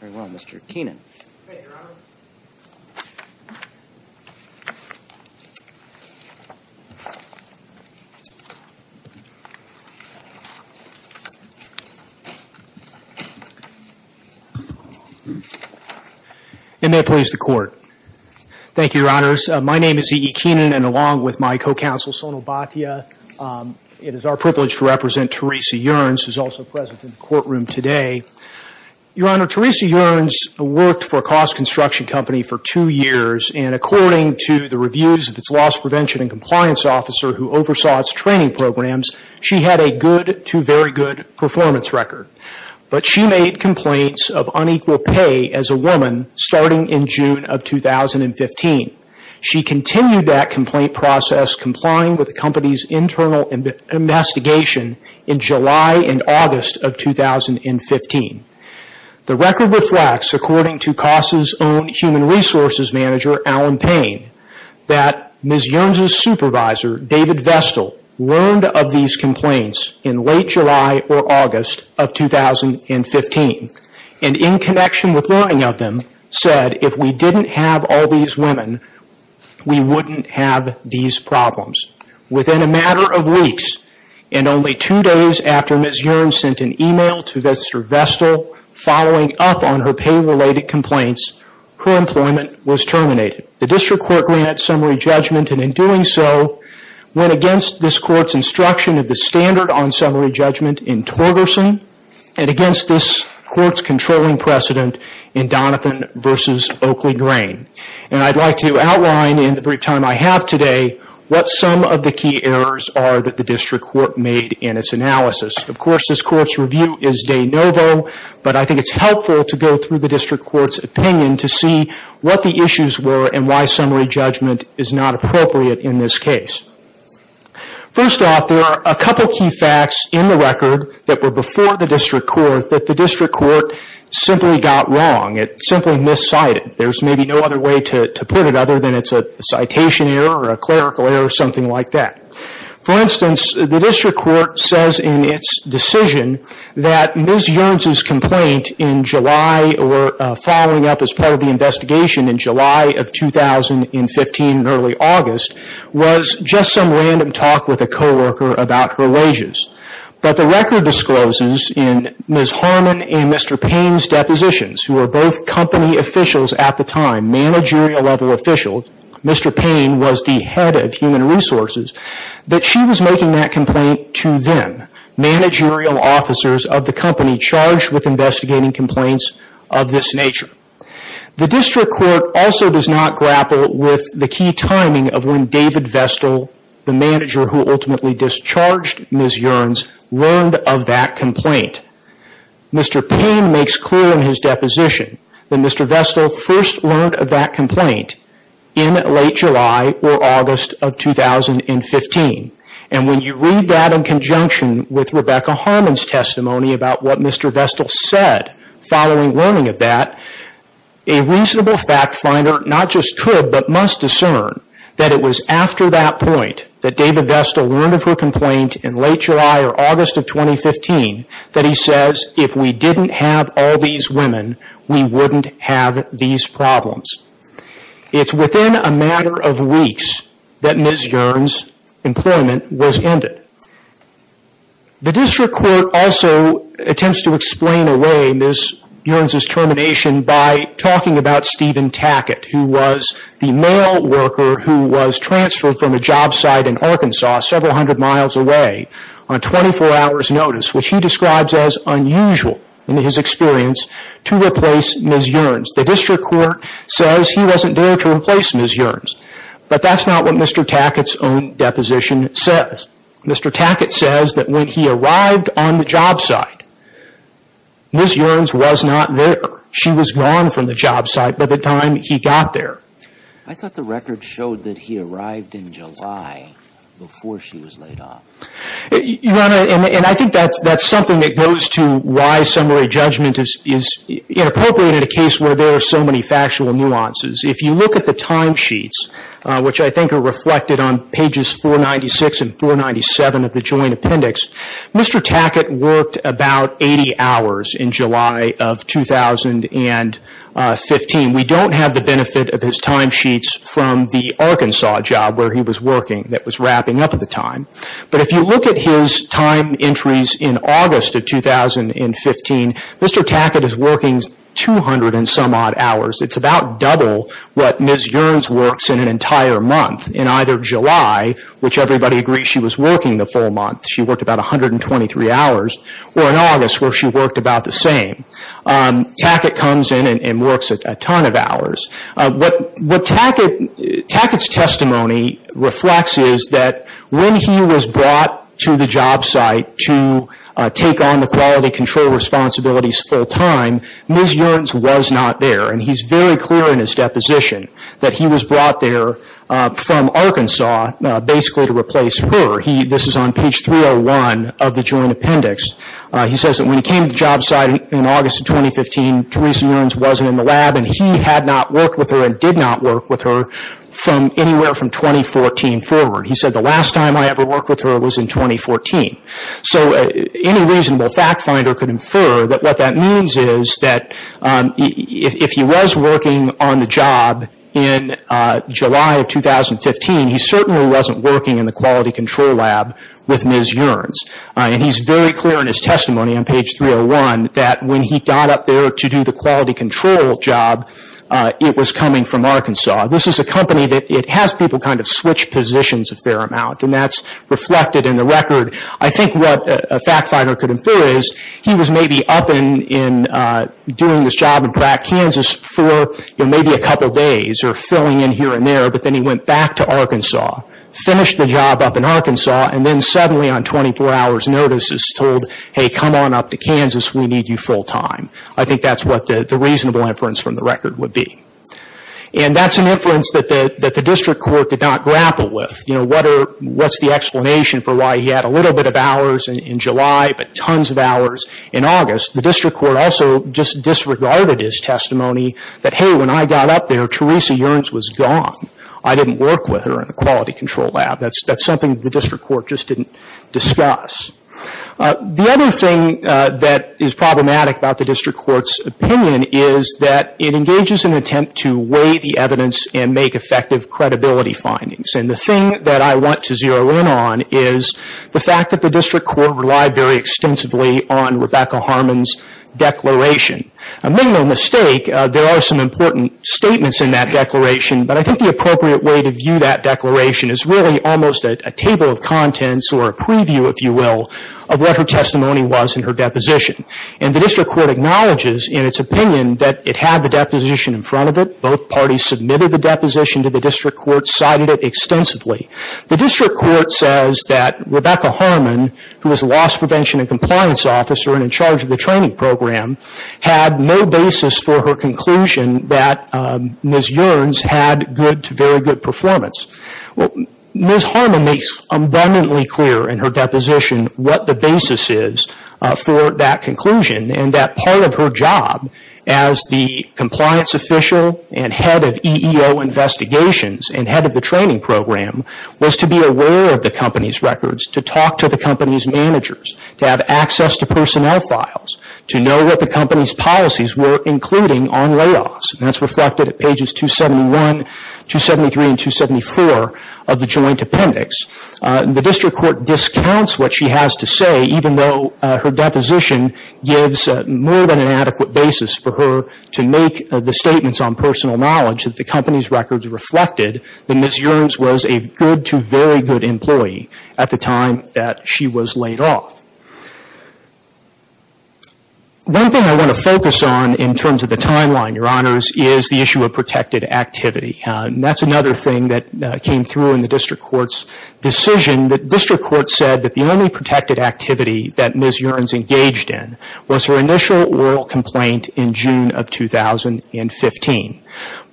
E. E. Keenan, along with my co-counsel Sonal Bhatia, it is our privilege to represent Teresa Yearns. Your Honor, Teresa Yearns worked for Koss Construction Company for two years, and according to the reviews of its loss prevention and compliance officer who oversaw its training programs, she had a good to very good performance record. But she made complaints of unequal pay as a woman starting in June of 2015. She continued that complaint process, complying with the company's internal investigation in July and August of 2015. The record reflects, according to Koss' own human resources manager, Alan Payne, that Ms. Yearns' supervisor, David Vestal, learned of these complaints in late July or August of 2015, and in connection with learning of them, said if we didn't have all these women, we wouldn't have these problems. Within a matter of weeks, and only two days after Ms. Yearns sent an email to Mr. Vestal following up on her pay-related complaints, her employment was terminated. The district court granted summary judgment, and in doing so, went against this court's instruction of the standard on summary judgment in Torgerson, and against this court's controlling precedent in Donovan v. Oakley Grain. I'd like to outline in the brief time I have today, what some of the key errors are that the district court made in its analysis. Of course, this court's review is de novo, but I think it's helpful to go through the district court's opinion to see what the issues were and why summary judgment is not appropriate in this case. First off, there are a couple of key facts in the record that were before the district court that the district court simply got wrong. It simply miscited. There's maybe no other way to put it other than it's a citation error or a clerical error or something like that. For instance, the district court says in its decision that Ms. Yearns' complaint following up as part of the investigation in July of 2015 and early August was just some random talk with a co-worker about her wages. But the record discloses in Ms. Harmon and Mr. Payne's depositions, who were both company officials at the time, managerial level officials, Mr. Payne was the head of human resources, that she was making that complaint to them, managerial officers of the company charged with investigating complaints of this nature. The district court also does not grapple with the key timing of when David Vestal, the manager who ultimately discharged Ms. Yearns, learned of that complaint. Mr. Payne makes clear in his deposition that Mr. Vestal first learned of that complaint in late July or August of 2015. And when you read that in conjunction with Rebecca Harmon's testimony about what Mr. Vestal said following learning of that, a reasonable fact finder not just could but must discern that it was after that point that David Vestal learned of her complaint in late July or August of 2015 that he says, if we didn't have all these women, we wouldn't have these problems. It's within a matter of weeks that Ms. Yearns' employment was ended. The district court also attempts to explain away Ms. Yearns' termination by talking about Stephen Tackett, who was the male worker who was transferred from a job site in Arkansas several hundred miles away on 24 hours notice, which he describes as unusual in his experience to replace Ms. Yearns. The district court says he wasn't there to replace Ms. Yearns, but that's not what Mr. Tackett's own deposition says. Mr. Tackett says that when he arrived on the job site, Ms. Yearns was not there. She was gone from the job site by the time he got there. I thought the record showed that he arrived in July before she was laid off. I think that's something that goes to why summary judgment is inappropriate in a case where there are so many factual nuances. If you look at the timesheets, which I think are reflected on pages 496 and 497 of the Joint Appendix, Mr. Tackett worked about 80 hours in July of 2015. We don't have the benefit of his timesheets from the Arkansas job where he was working that was wrapping up at the time. But if you look at his time entries in August of 2015, Mr. Tackett is working 200 and some odd hours. It's about double what Ms. Yearns works in an entire month. In either July, which everybody agrees she was working the full month, she worked about 123 hours, or in August where she worked about the same. Tackett comes in and works a ton of hours. What Tackett's testimony reflects is that when he was brought to the job site to take on the quality control responsibilities full time, Ms. Yearns was not there. And he's very clear in his deposition that he was brought there from Arkansas basically to replace her. This is on page 301 of the Joint Appendix. He says that when he came to the job site in August of 2015, Teresa Yearns wasn't in the lab and he had not worked with her and did not work with her from anywhere from 2014 forward. He said the last time I ever worked with her was in 2014. So any reasonable fact finder could infer that what that means is that if he was working on the job in July of 2015, he certainly wasn't working in the quality control lab with Ms. Yearns. And he's very clear in his testimony on page 301 that when he got up there to do the quality control job, it was coming from Arkansas. This is a company that has people kind of switch positions a fair amount, and that's reflected in the record. I think what a fact finder could infer is he was maybe up and doing this job in Kansas for maybe a couple days or filling in here and there, but then he went back to Arkansas, finished the job up in Arkansas, and then suddenly on 24 hours notice is told, hey, come on up to Kansas, we need you full time. I think that's what the reasonable inference from the record would be. And that's an inference that the district court did not grapple with. What's the explanation for why he had a little bit of hours in July but tons of hours in August? The district court also just disregarded his testimony that, hey, when I got up there, Teresa Yearns was gone. I didn't work with her in the quality control lab. That's something the district court just didn't discuss. The other thing that is problematic about the district court's opinion is that it engages an attempt to weigh the evidence and make effective credibility findings. And the thing that I want to zero in on is the fact that the district court relied very extensively on Rebecca Harmon's declaration. A minimal mistake, there are some important statements in that declaration, but I think the appropriate way to view that declaration is really almost a table of contents or a preview, if you will, of what her testimony was in her deposition. And the district court acknowledges in its opinion that it had the deposition in front of it. Both parties submitted the deposition to the district court, cited it extensively. The district court says that Rebecca Harmon, who was a loss prevention and compliance officer and in charge of the training program, had no basis for her conclusion that Ms. Yearns had good to very good performance. Ms. Harmon makes abundantly clear in her deposition what the basis is for that conclusion and that part of her job as the compliance official and head of EEO investigations and head of the training program was to be aware of the company's records, to talk to the company's managers, to have access to personnel files, to know what the company's policies were including on layoffs. And that's reflected at pages 271, 273, and 274 of the joint appendix. The district court discounts what she has to say even though her deposition gives more than an adequate basis for her to make the statements on personal knowledge that the company's records reflected that Ms. Yearns was a good to very good employee at the time that she was laid off. One thing I want to focus on in terms of the timeline, Your Honors, is the issue of protected activity. And that's another thing that came through in the district court's decision. The district court said that the only protected activity that Ms. Yearns engaged in was her initial oral complaint in June of 2015.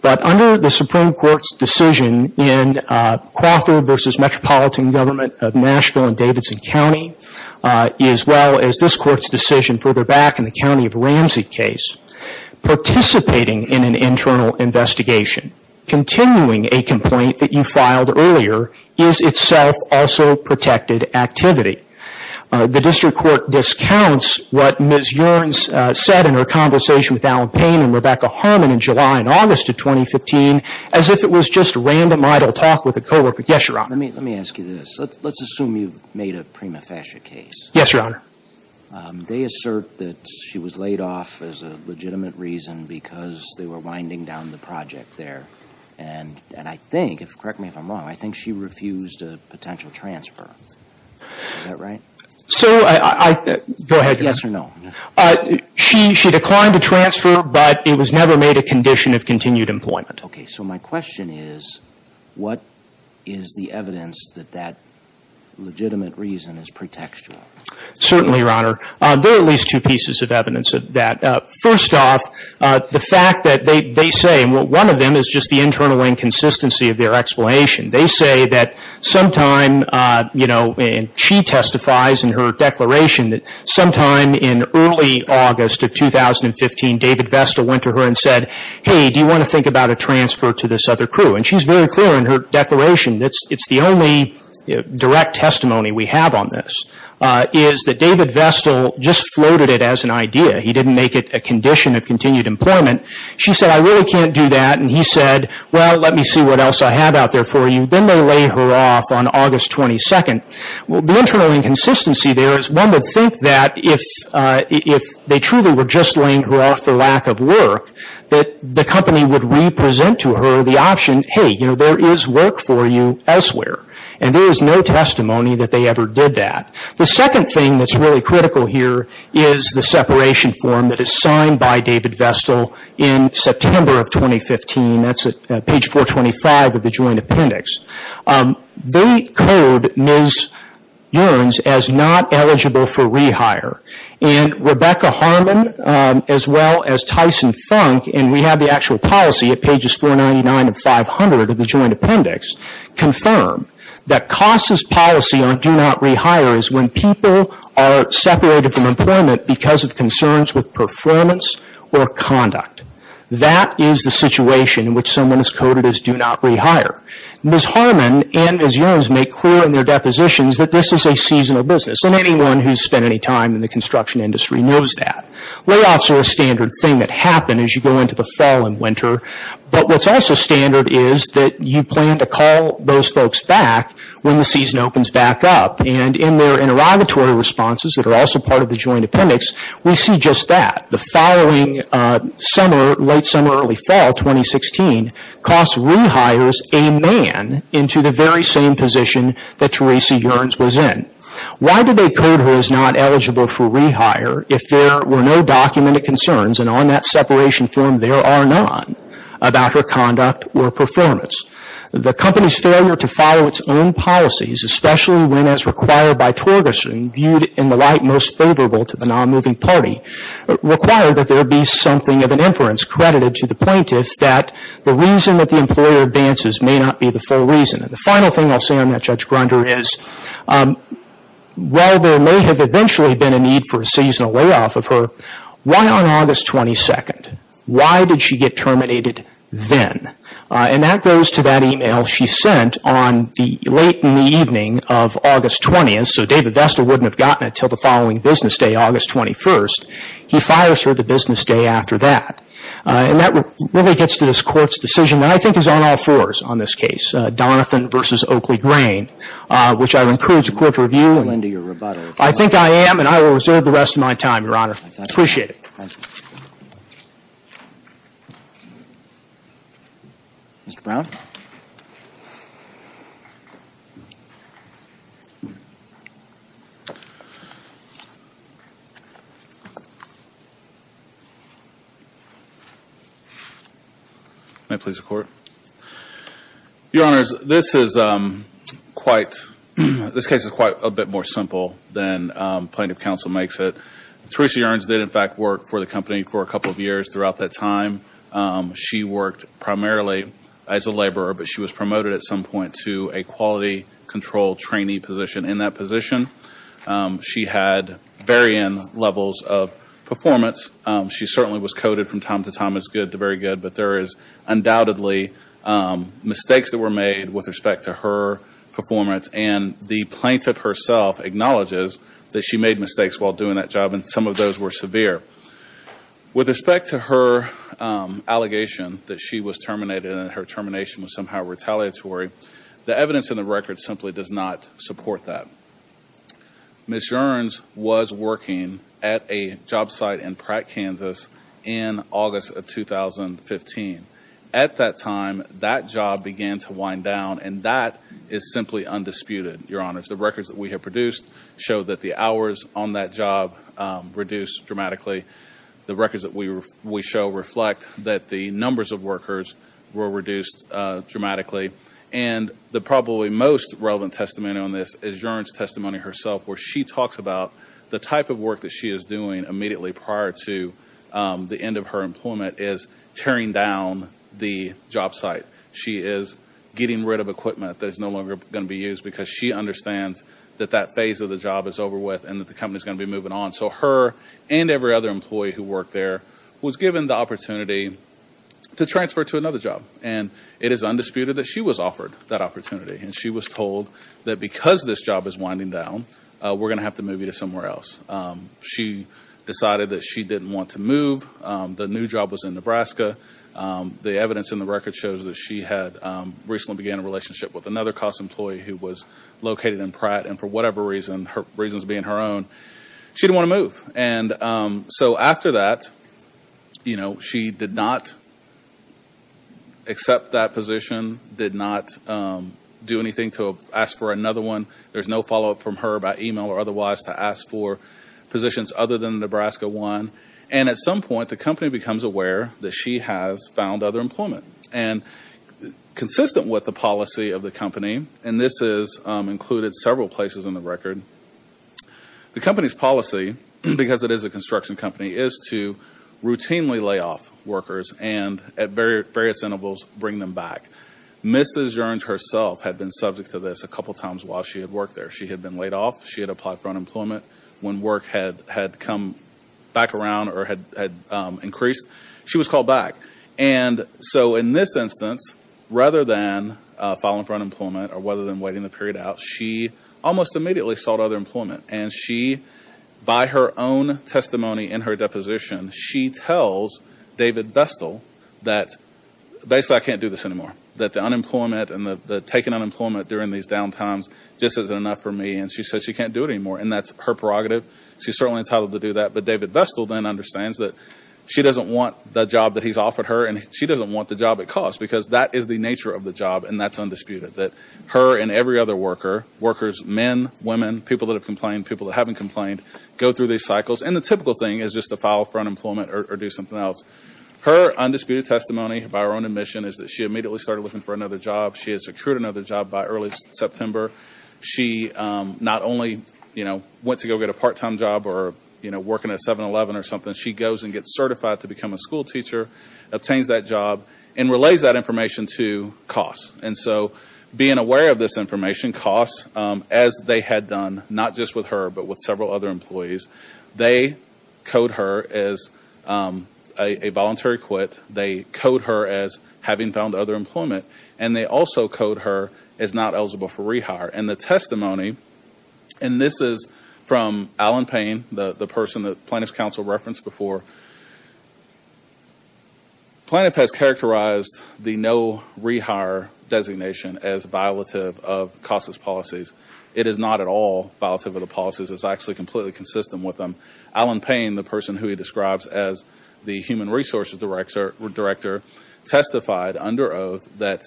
But under the Supreme Court's decision in Crawford v. Metropolitan Government of Nashville in Davidson County, as well as this court's decision further back in the County of Ramsey case, participating in an internal investigation, continuing a complaint that you filed earlier, is itself also protected activity. The district court discounts what Ms. Yearns said in her conversation with Alan Payne and Rebecca Harmon in July and August of 2015 as if it was just random idle talk with a coworker. Yes, Your Honor. Let me ask you this. Let's assume you've made a prima facie case. Yes, Your Honor. They assert that she was laid off as a legitimate reason because they were winding down the project there. And I think, correct me if I'm wrong, I think she refused a potential transfer. Is that right? Go ahead, Your Honor. Yes or no? She declined a transfer, but it was never made a condition of continued employment. Okay, so my question is, what is the evidence that that legitimate reason is pretextual? Certainly, Your Honor. There are at least two pieces of evidence of that. First off, the fact that they say, and one of them is just the internal inconsistency of their explanation. They say that sometime, you know, and she testifies in her declaration that sometime in early August of 2015, David Vesta went to her and said, hey, do you want to think about a transfer to this other crew? And she's very clear in her declaration, it's the only direct testimony we have on this, is that David Vesta just floated it as an idea. He didn't make it a condition of continued employment. She said, I really can't do that. And he said, well, let me see what else I have out there for you. Then they laid her off on August 22nd. Well, the internal inconsistency there is one would think that if they truly were just laying her off for lack of work, that the company would re-present to her the option, hey, you know, there is work for you elsewhere. And there is no testimony that they ever did that. The second thing that's really critical here is the separation form that is signed by David Vesta in September of 2015. That's at page 425 of the joint appendix. They code Ms. Yearns as not eligible for rehire. And Rebecca Harmon, as well as Tyson Funk, and we have the actual policy at pages 499 and 500 of the joint appendix, confirm that CASA's policy on do not rehire is when people are separated from employment because of concerns with performance or conduct. That is the situation in which someone is coded as do not rehire. Ms. Harmon and Ms. Yearns make clear in their depositions that this is a seasonal business. And anyone who has spent any time in the construction industry knows that. Layoffs are a standard thing that happen as you go into the fall and winter. But what's also standard is that you plan to call those folks back when the season opens back up. And in their interrogatory responses that are also part of the joint appendix, we see just that. The following summer, late summer, early fall 2016, CASA rehires a man into the very same position that Tracy Yearns was in. Why do they code her as not eligible for rehire if there were no documented concerns, and on that separation form there are none, about her conduct or performance? The company's failure to follow its own policies, especially when as required by Torgerson, viewed in the light most favorable to the non-moving party, required that there be something of an inference credited to the plaintiff that the reason that the employer advances may not be the full reason. And the final thing I'll say on that, Judge Grunder, is while there may have eventually been a need for a seasonal layoff of her, why on August 22nd? Why did she get terminated then? And that goes to that email she sent on the late in the evening of August 20th, so David Vesta wouldn't have gotten it until the following business day, August 21st. He fires her the business day after that. And that really gets to this Court's decision that I think is on all fours on this case. Donovan v. Oakley Grain, which I would encourage the Court to review. I think I am, and I will reserve the rest of my time, Your Honor. I appreciate it. Thank you. Mr. Brown? May I please report? Your Honors, this is quite, this case is quite a bit more simple than Plaintiff Counsel makes it. Theresa Yearns did in fact work for the company for a couple of years throughout that time. She worked primarily as a laborer, but she was promoted at some point to a quality control trainee position. In that position, she had varying levels of performance. She certainly was coded from time to time as good to very good, but there is undoubtedly mistakes that were made with respect to her performance, and the plaintiff herself acknowledges that she made mistakes while doing that job, and some of those were severe. With respect to her allegation that she was terminated and her termination was somehow retaliatory, the evidence in the record simply does not support that. Ms. Yearns was working at a job site in Pratt, Kansas in August of 2015. At that time, that job began to wind down, and that is simply undisputed, Your Honors. The records that we have produced show that the hours on that job reduced dramatically. The records that we show reflect that the numbers of workers were reduced dramatically, and the probably most relevant testimony on this is Yearns' testimony herself, where she talks about the type of work that she is doing immediately prior to the end of her employment is tearing down the job site. She is getting rid of equipment that is no longer going to be used because she understands that that phase of the job is over with and that the company is going to be moving on. So her and every other employee who worked there was given the opportunity to transfer to another job, and it is undisputed that she was offered that opportunity, and she was told that because this job is winding down, we're going to have to move you to somewhere else. She decided that she didn't want to move. The new job was in Nebraska. The evidence in the record shows that she had recently began a relationship with another cost employee who was located in Pratt, and for whatever reason, her reasons being her own, she didn't want to move. So after that, she did not accept that position, did not do anything to ask for another one. There's no follow-up from her about email or otherwise to ask for positions other than the Nebraska one, and at some point, the company becomes aware that she has found other employment. Consistent with the policy of the company, and this is included several places in the record, the company's policy, because it is a construction company, is to routinely lay off workers and at various intervals bring them back. Mrs. Jerns herself had been subject to this a couple times while she had worked there. She had been laid off. She had applied for unemployment. When work had come back around or had increased, she was called back. And so in this instance, rather than filing for unemployment or rather than waiting the period out, she almost immediately sought other employment, and she, by her own testimony in her deposition, she tells David Vestal that, basically, I can't do this anymore, that the unemployment and the taken unemployment during these down times just isn't enough for me, and she says she can't do it anymore, and that's her prerogative. She's certainly entitled to do that, but David Vestal then understands that she doesn't want the job that he's offered her, and she doesn't want the job at cost because that is the nature of the job, and that's undisputed, that her and every other worker, workers, men, women, people that have complained, people that haven't complained, go through these cycles, and the typical thing is just to file for unemployment or do something else. Her undisputed testimony, by her own admission, is that she immediately started looking for another job. She had secured another job by early September. She not only, you know, went to go get a part-time job or, you know, working at 7-Eleven or something. She goes and gets certified to become a school teacher, obtains that job, and relays that information to COSS. And so being aware of this information, COSS, as they had done, not just with her but with several other employees, they code her as a voluntary quit. They code her as having found other employment, and they also code her as not eligible for rehire. And the testimony, and this is from Alan Payne, the person that Plaintiff's counsel referenced before. Plaintiff has characterized the no rehire designation as violative of COSS's policies. It is not at all violative of the policies. It's actually completely consistent with them. Alan Payne, the person who he describes as the human resources director, testified under oath that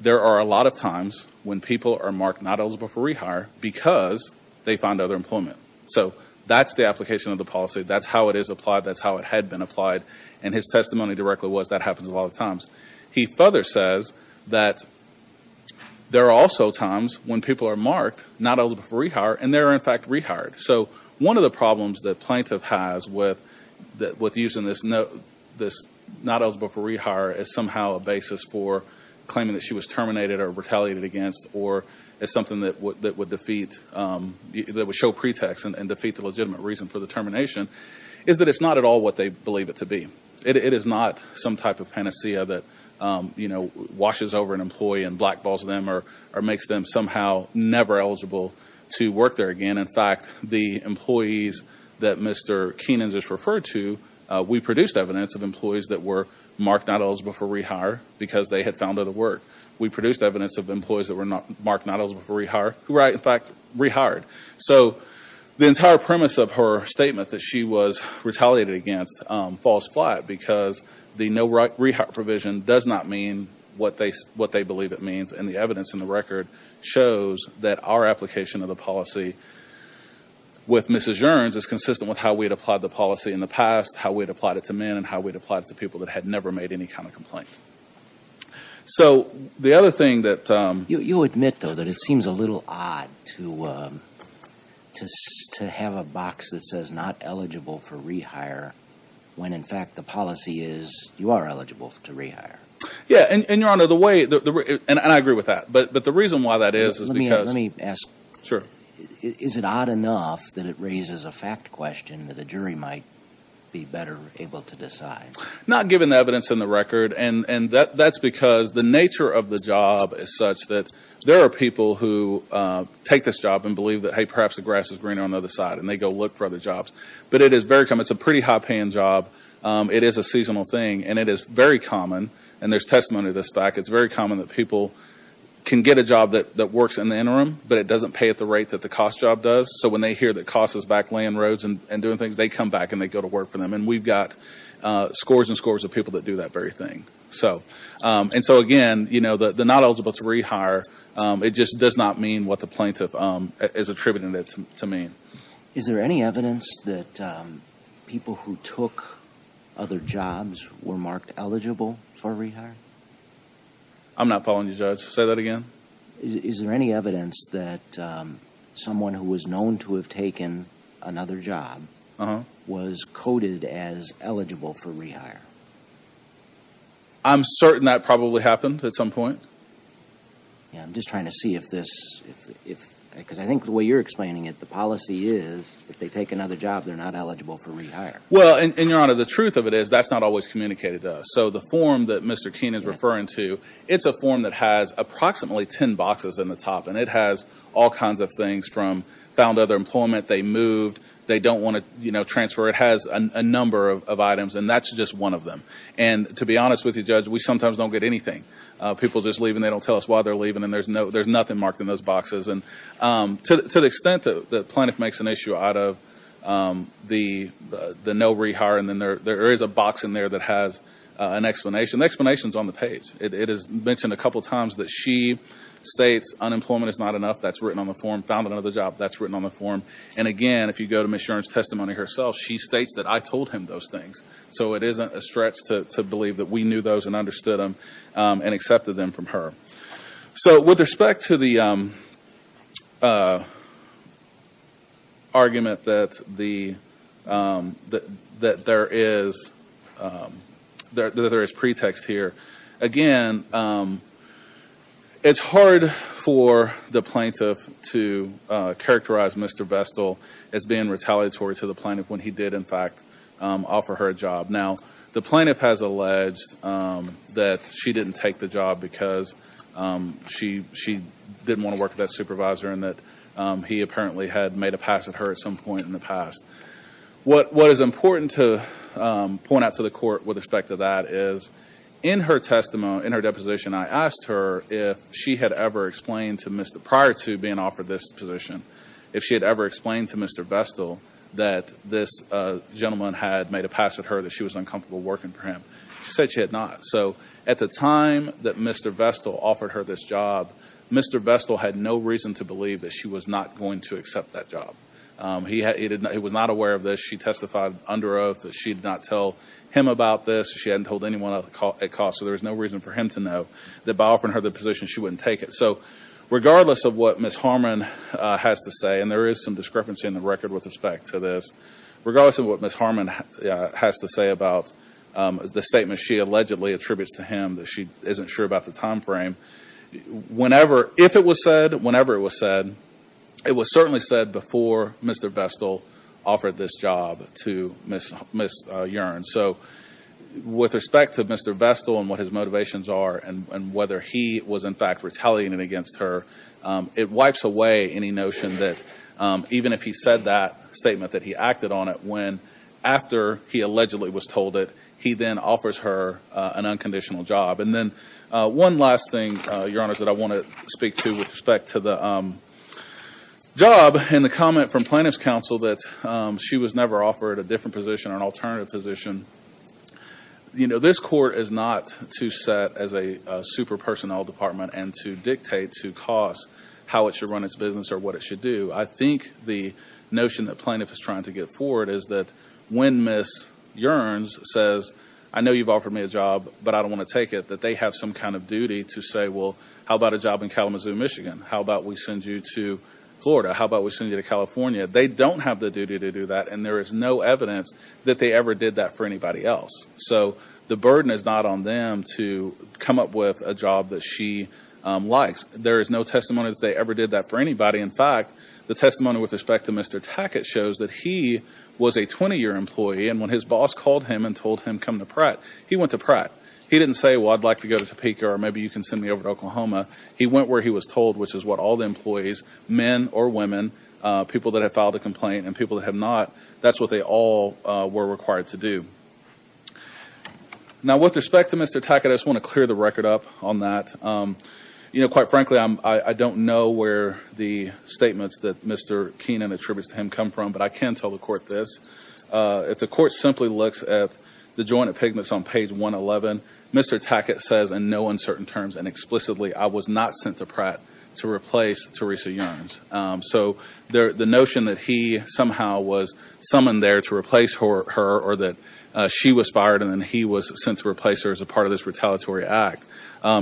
there are a lot of times when people are marked not eligible for rehire because they found other employment. So that's the application of the policy. That's how it is applied. That's how it had been applied. And his testimony directly was that happens a lot of times. He further says that there are also times when people are marked not eligible for rehire, and they are, in fact, rehired. So one of the problems that Plaintiff has with using this not eligible for rehire as somehow a basis for claiming that she was terminated or retaliated against or as something that would defeat, that would show pretext and defeat the legitimate reason for the termination, is that it's not at all what they believe it to be. It is not some type of panacea that, you know, washes over an employee and black balls them or makes them somehow never eligible to work there again. In fact, the employees that Mr. Keenan just referred to, we produced evidence of employees that were marked not eligible for rehire because they had found other work. We produced evidence of employees that were marked not eligible for rehire who were, in fact, rehired. So the entire premise of her statement that she was retaliated against falls flat because the no rehire provision does not mean what they believe it means, and the evidence in the record shows that our application of the policy with Mrs. Yearns is consistent with how we had applied the policy in the past, how we had applied it to men, and how we had applied it to people that had never made any kind of complaint. So the other thing that… You admit, though, that it seems a little odd to have a box that says not eligible for rehire when, in fact, the policy is you are eligible to rehire. Yeah. And, Your Honor, the way… And I agree with that. But the reason why that is is because… Let me ask. Sure. Is it odd enough that it raises a fact question that a jury might be better able to decide? Not given the evidence in the record. And that's because the nature of the job is such that there are people who take this job and believe that, hey, perhaps the grass is greener on the other side, and they go look for other jobs. But it is very common. It's a pretty high-paying job. It is a seasonal thing, and it is very common. And there's testimony to this fact. It's very common that people can get a job that works in the interim, but it doesn't pay at the rate that the cost job does. So when they hear that cost is back laying roads and doing things, they come back and they go to work for them. And we've got scores and scores of people that do that very thing. And so, again, the not eligible to rehire, it just does not mean what the plaintiff is attributing it to mean. Is there any evidence that people who took other jobs were marked eligible for rehire? I'm not following you, Judge. Say that again. Is there any evidence that someone who was known to have taken another job was coded as eligible for rehire? I'm certain that probably happened at some point. I'm just trying to see if this, because I think the way you're explaining it, the policy is if they take another job, they're not eligible for rehire. Well, and, Your Honor, the truth of it is that's not always communicated to us. So the form that Mr. Keene is referring to, it's a form that has approximately ten boxes in the top, and it has all kinds of things from found other employment, they moved, they don't want to transfer. It has a number of items, and that's just one of them. And to be honest with you, Judge, we sometimes don't get anything. People just leave and they don't tell us why they're leaving, and there's nothing marked in those boxes. And to the extent that the plaintiff makes an issue out of the no rehire and then there is a box in there that has an explanation, the explanation is on the page. It is mentioned a couple times that she states unemployment is not enough. That's written on the form. Found another job. That's written on the form. And, again, if you go to Ms. Shuren's testimony herself, she states that I told him those things. So it isn't a stretch to believe that we knew those and understood them and accepted them from her. So with respect to the argument that there is pretext here, again, it's hard for the plaintiff to characterize Mr. Bestel as being retaliatory to the plaintiff when he did, in fact, offer her a job. Now, the plaintiff has alleged that she didn't take the job because she didn't want to work with that supervisor and that he apparently had made a pass at her at some point in the past. What is important to point out to the court with respect to that is, in her testimony, in her deposition, I asked her if she had ever explained to Mr. prior to being offered this position, if she had ever explained to Mr. Bestel that this gentleman had made a pass at her, that she was uncomfortable working for him. She said she had not. So at the time that Mr. Bestel offered her this job, Mr. Bestel had no reason to believe that she was not going to accept that job. He was not aware of this. She testified under oath that she did not tell him about this. She hadn't told anyone at cost. So there was no reason for him to know that by offering her the position, she wouldn't take it. So regardless of what Ms. Harmon has to say, and there is some discrepancy in the record with respect to this, regardless of what Ms. Harmon has to say about the statement she allegedly attributes to him, that she isn't sure about the time frame, if it was said, whenever it was said, it was certainly said before Mr. Bestel offered this job to Ms. Yearn. So with respect to Mr. Bestel and what his motivations are and whether he was, in fact, retaliating against her, it wipes away any notion that even if he said that statement, that he acted on it when after he allegedly was told it, he then offers her an unconditional job. And then one last thing, Your Honor, that I want to speak to with respect to the job and the comment from plaintiff's counsel that she was never offered a different position or an alternative position. You know, this court is not to set as a super personnel department and to dictate to costs how it should run its business or what it should do. I think the notion that plaintiff is trying to get forward is that when Ms. Yearns says, I know you've offered me a job, but I don't want to take it, that they have some kind of duty to say, well, how about a job in Kalamazoo, Michigan? How about we send you to Florida? How about we send you to California? They don't have the duty to do that, and there is no evidence that they ever did that for anybody else. So the burden is not on them to come up with a job that she likes. There is no testimony that they ever did that for anybody. In fact, the testimony with respect to Mr. Tackett shows that he was a 20-year employee, and when his boss called him and told him, come to Pratt, he went to Pratt. He didn't say, well, I'd like to go to Topeka or maybe you can send me over to Oklahoma. He went where he was told, which is what all the employees, men or women, people that have filed a complaint and people that have not, that's what they all were required to do. Now, with respect to Mr. Tackett, I just want to clear the record up on that. You know, quite frankly, I don't know where the statements that Mr. Keenan attributes to him come from, but I can tell the court this. If the court simply looks at the joint of pigments on page 111, Mr. Tackett says in no uncertain terms and explicitly, I was not sent to Pratt to replace Teresa Youngs. So the notion that he somehow was summoned there to replace her or that she was fired and then he was sent to replace her as a part of this retaliatory act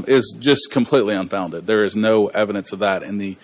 is just completely unfounded. There is no evidence of that. And the,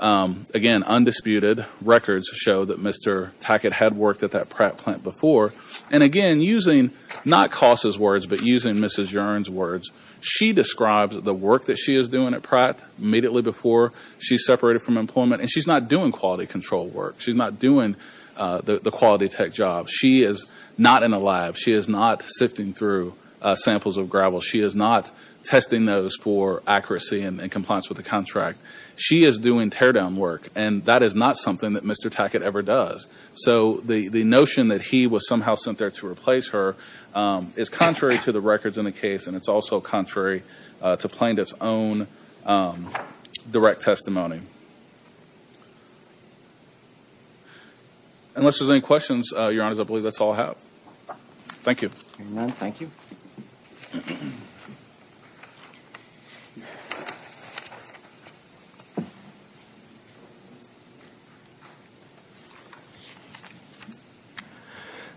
again, undisputed records show that Mr. Tackett had worked at that Pratt plant before. And again, using not Cos' words but using Mrs. Yearns' words, she describes the work that she is doing at Pratt immediately before she's separated from employment, and she's not doing quality control work. She's not doing the quality tech job. She is not in a lab. She is not sifting through samples of gravel. She is not testing those for accuracy and compliance with the contract. She is doing teardown work, and that is not something that Mr. Tackett ever does. So the notion that he was somehow sent there to replace her is contrary to the records in the case, and it's also contrary to plaintiff's own direct testimony. Unless there's any questions, Your Honors, I believe that's all I have. Thank you. If there are none, thank you.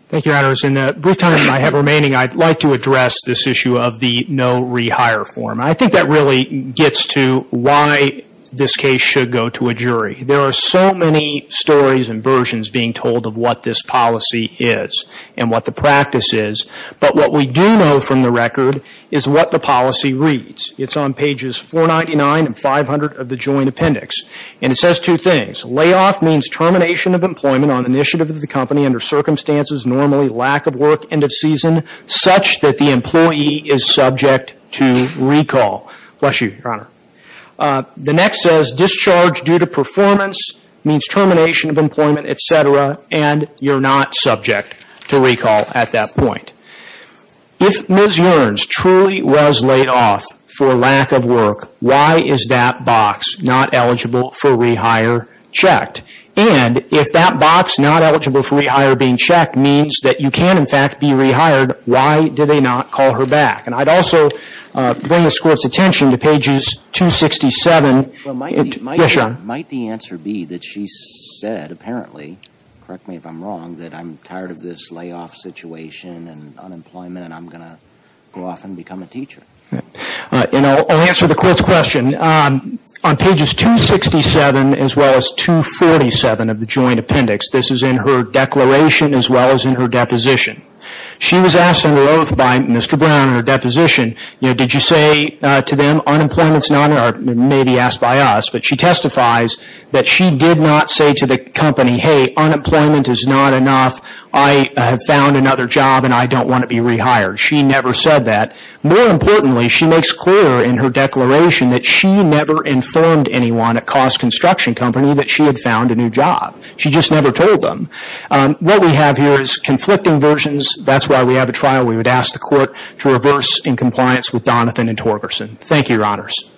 Thank you, Your Honors. In the brief time that I have remaining, I'd like to address this issue of the no rehire form. I think that really gets to why this case should go to a jury. There are so many stories and versions being told of what this policy is and what the practice is, but what we do know from the record is what the policy reads. It's on pages 499 and 500 of the joint appendix, and it says two things. Layoff means termination of employment on initiative of the company under circumstances normally lack of work, such that the employee is subject to recall. Bless you, Your Honor. The next says discharge due to performance means termination of employment, et cetera, and you're not subject to recall at that point. If Ms. Yearns truly was laid off for lack of work, why is that box not eligible for rehire checked? And if that box not eligible for rehire being checked means that you can, in fact, be rehired, why do they not call her back? And I'd also bring this Court's attention to pages 267. Yes, Your Honor. Might the answer be that she said, apparently, correct me if I'm wrong, that I'm tired of this layoff situation and unemployment and I'm going to go off and become a teacher? And I'll answer the Court's question. On pages 267 as well as 247 of the joint appendix, this is in her declaration as well as in her deposition, she was asked under oath by Mr. Brown in her deposition, you know, did you say to them, unemployment's not, or maybe asked by us, but she testifies that she did not say to the company, hey, unemployment is not enough, I have found another job and I don't want to be rehired. She never said that. More importantly, she makes clear in her declaration that she never informed anyone at Cost Construction Company that she had found a new job. She just never told them. What we have here is conflicting versions. That's why we have a trial. We would ask the Court to reverse in compliance with Donathan and Torgerson. Thank you, Your Honors.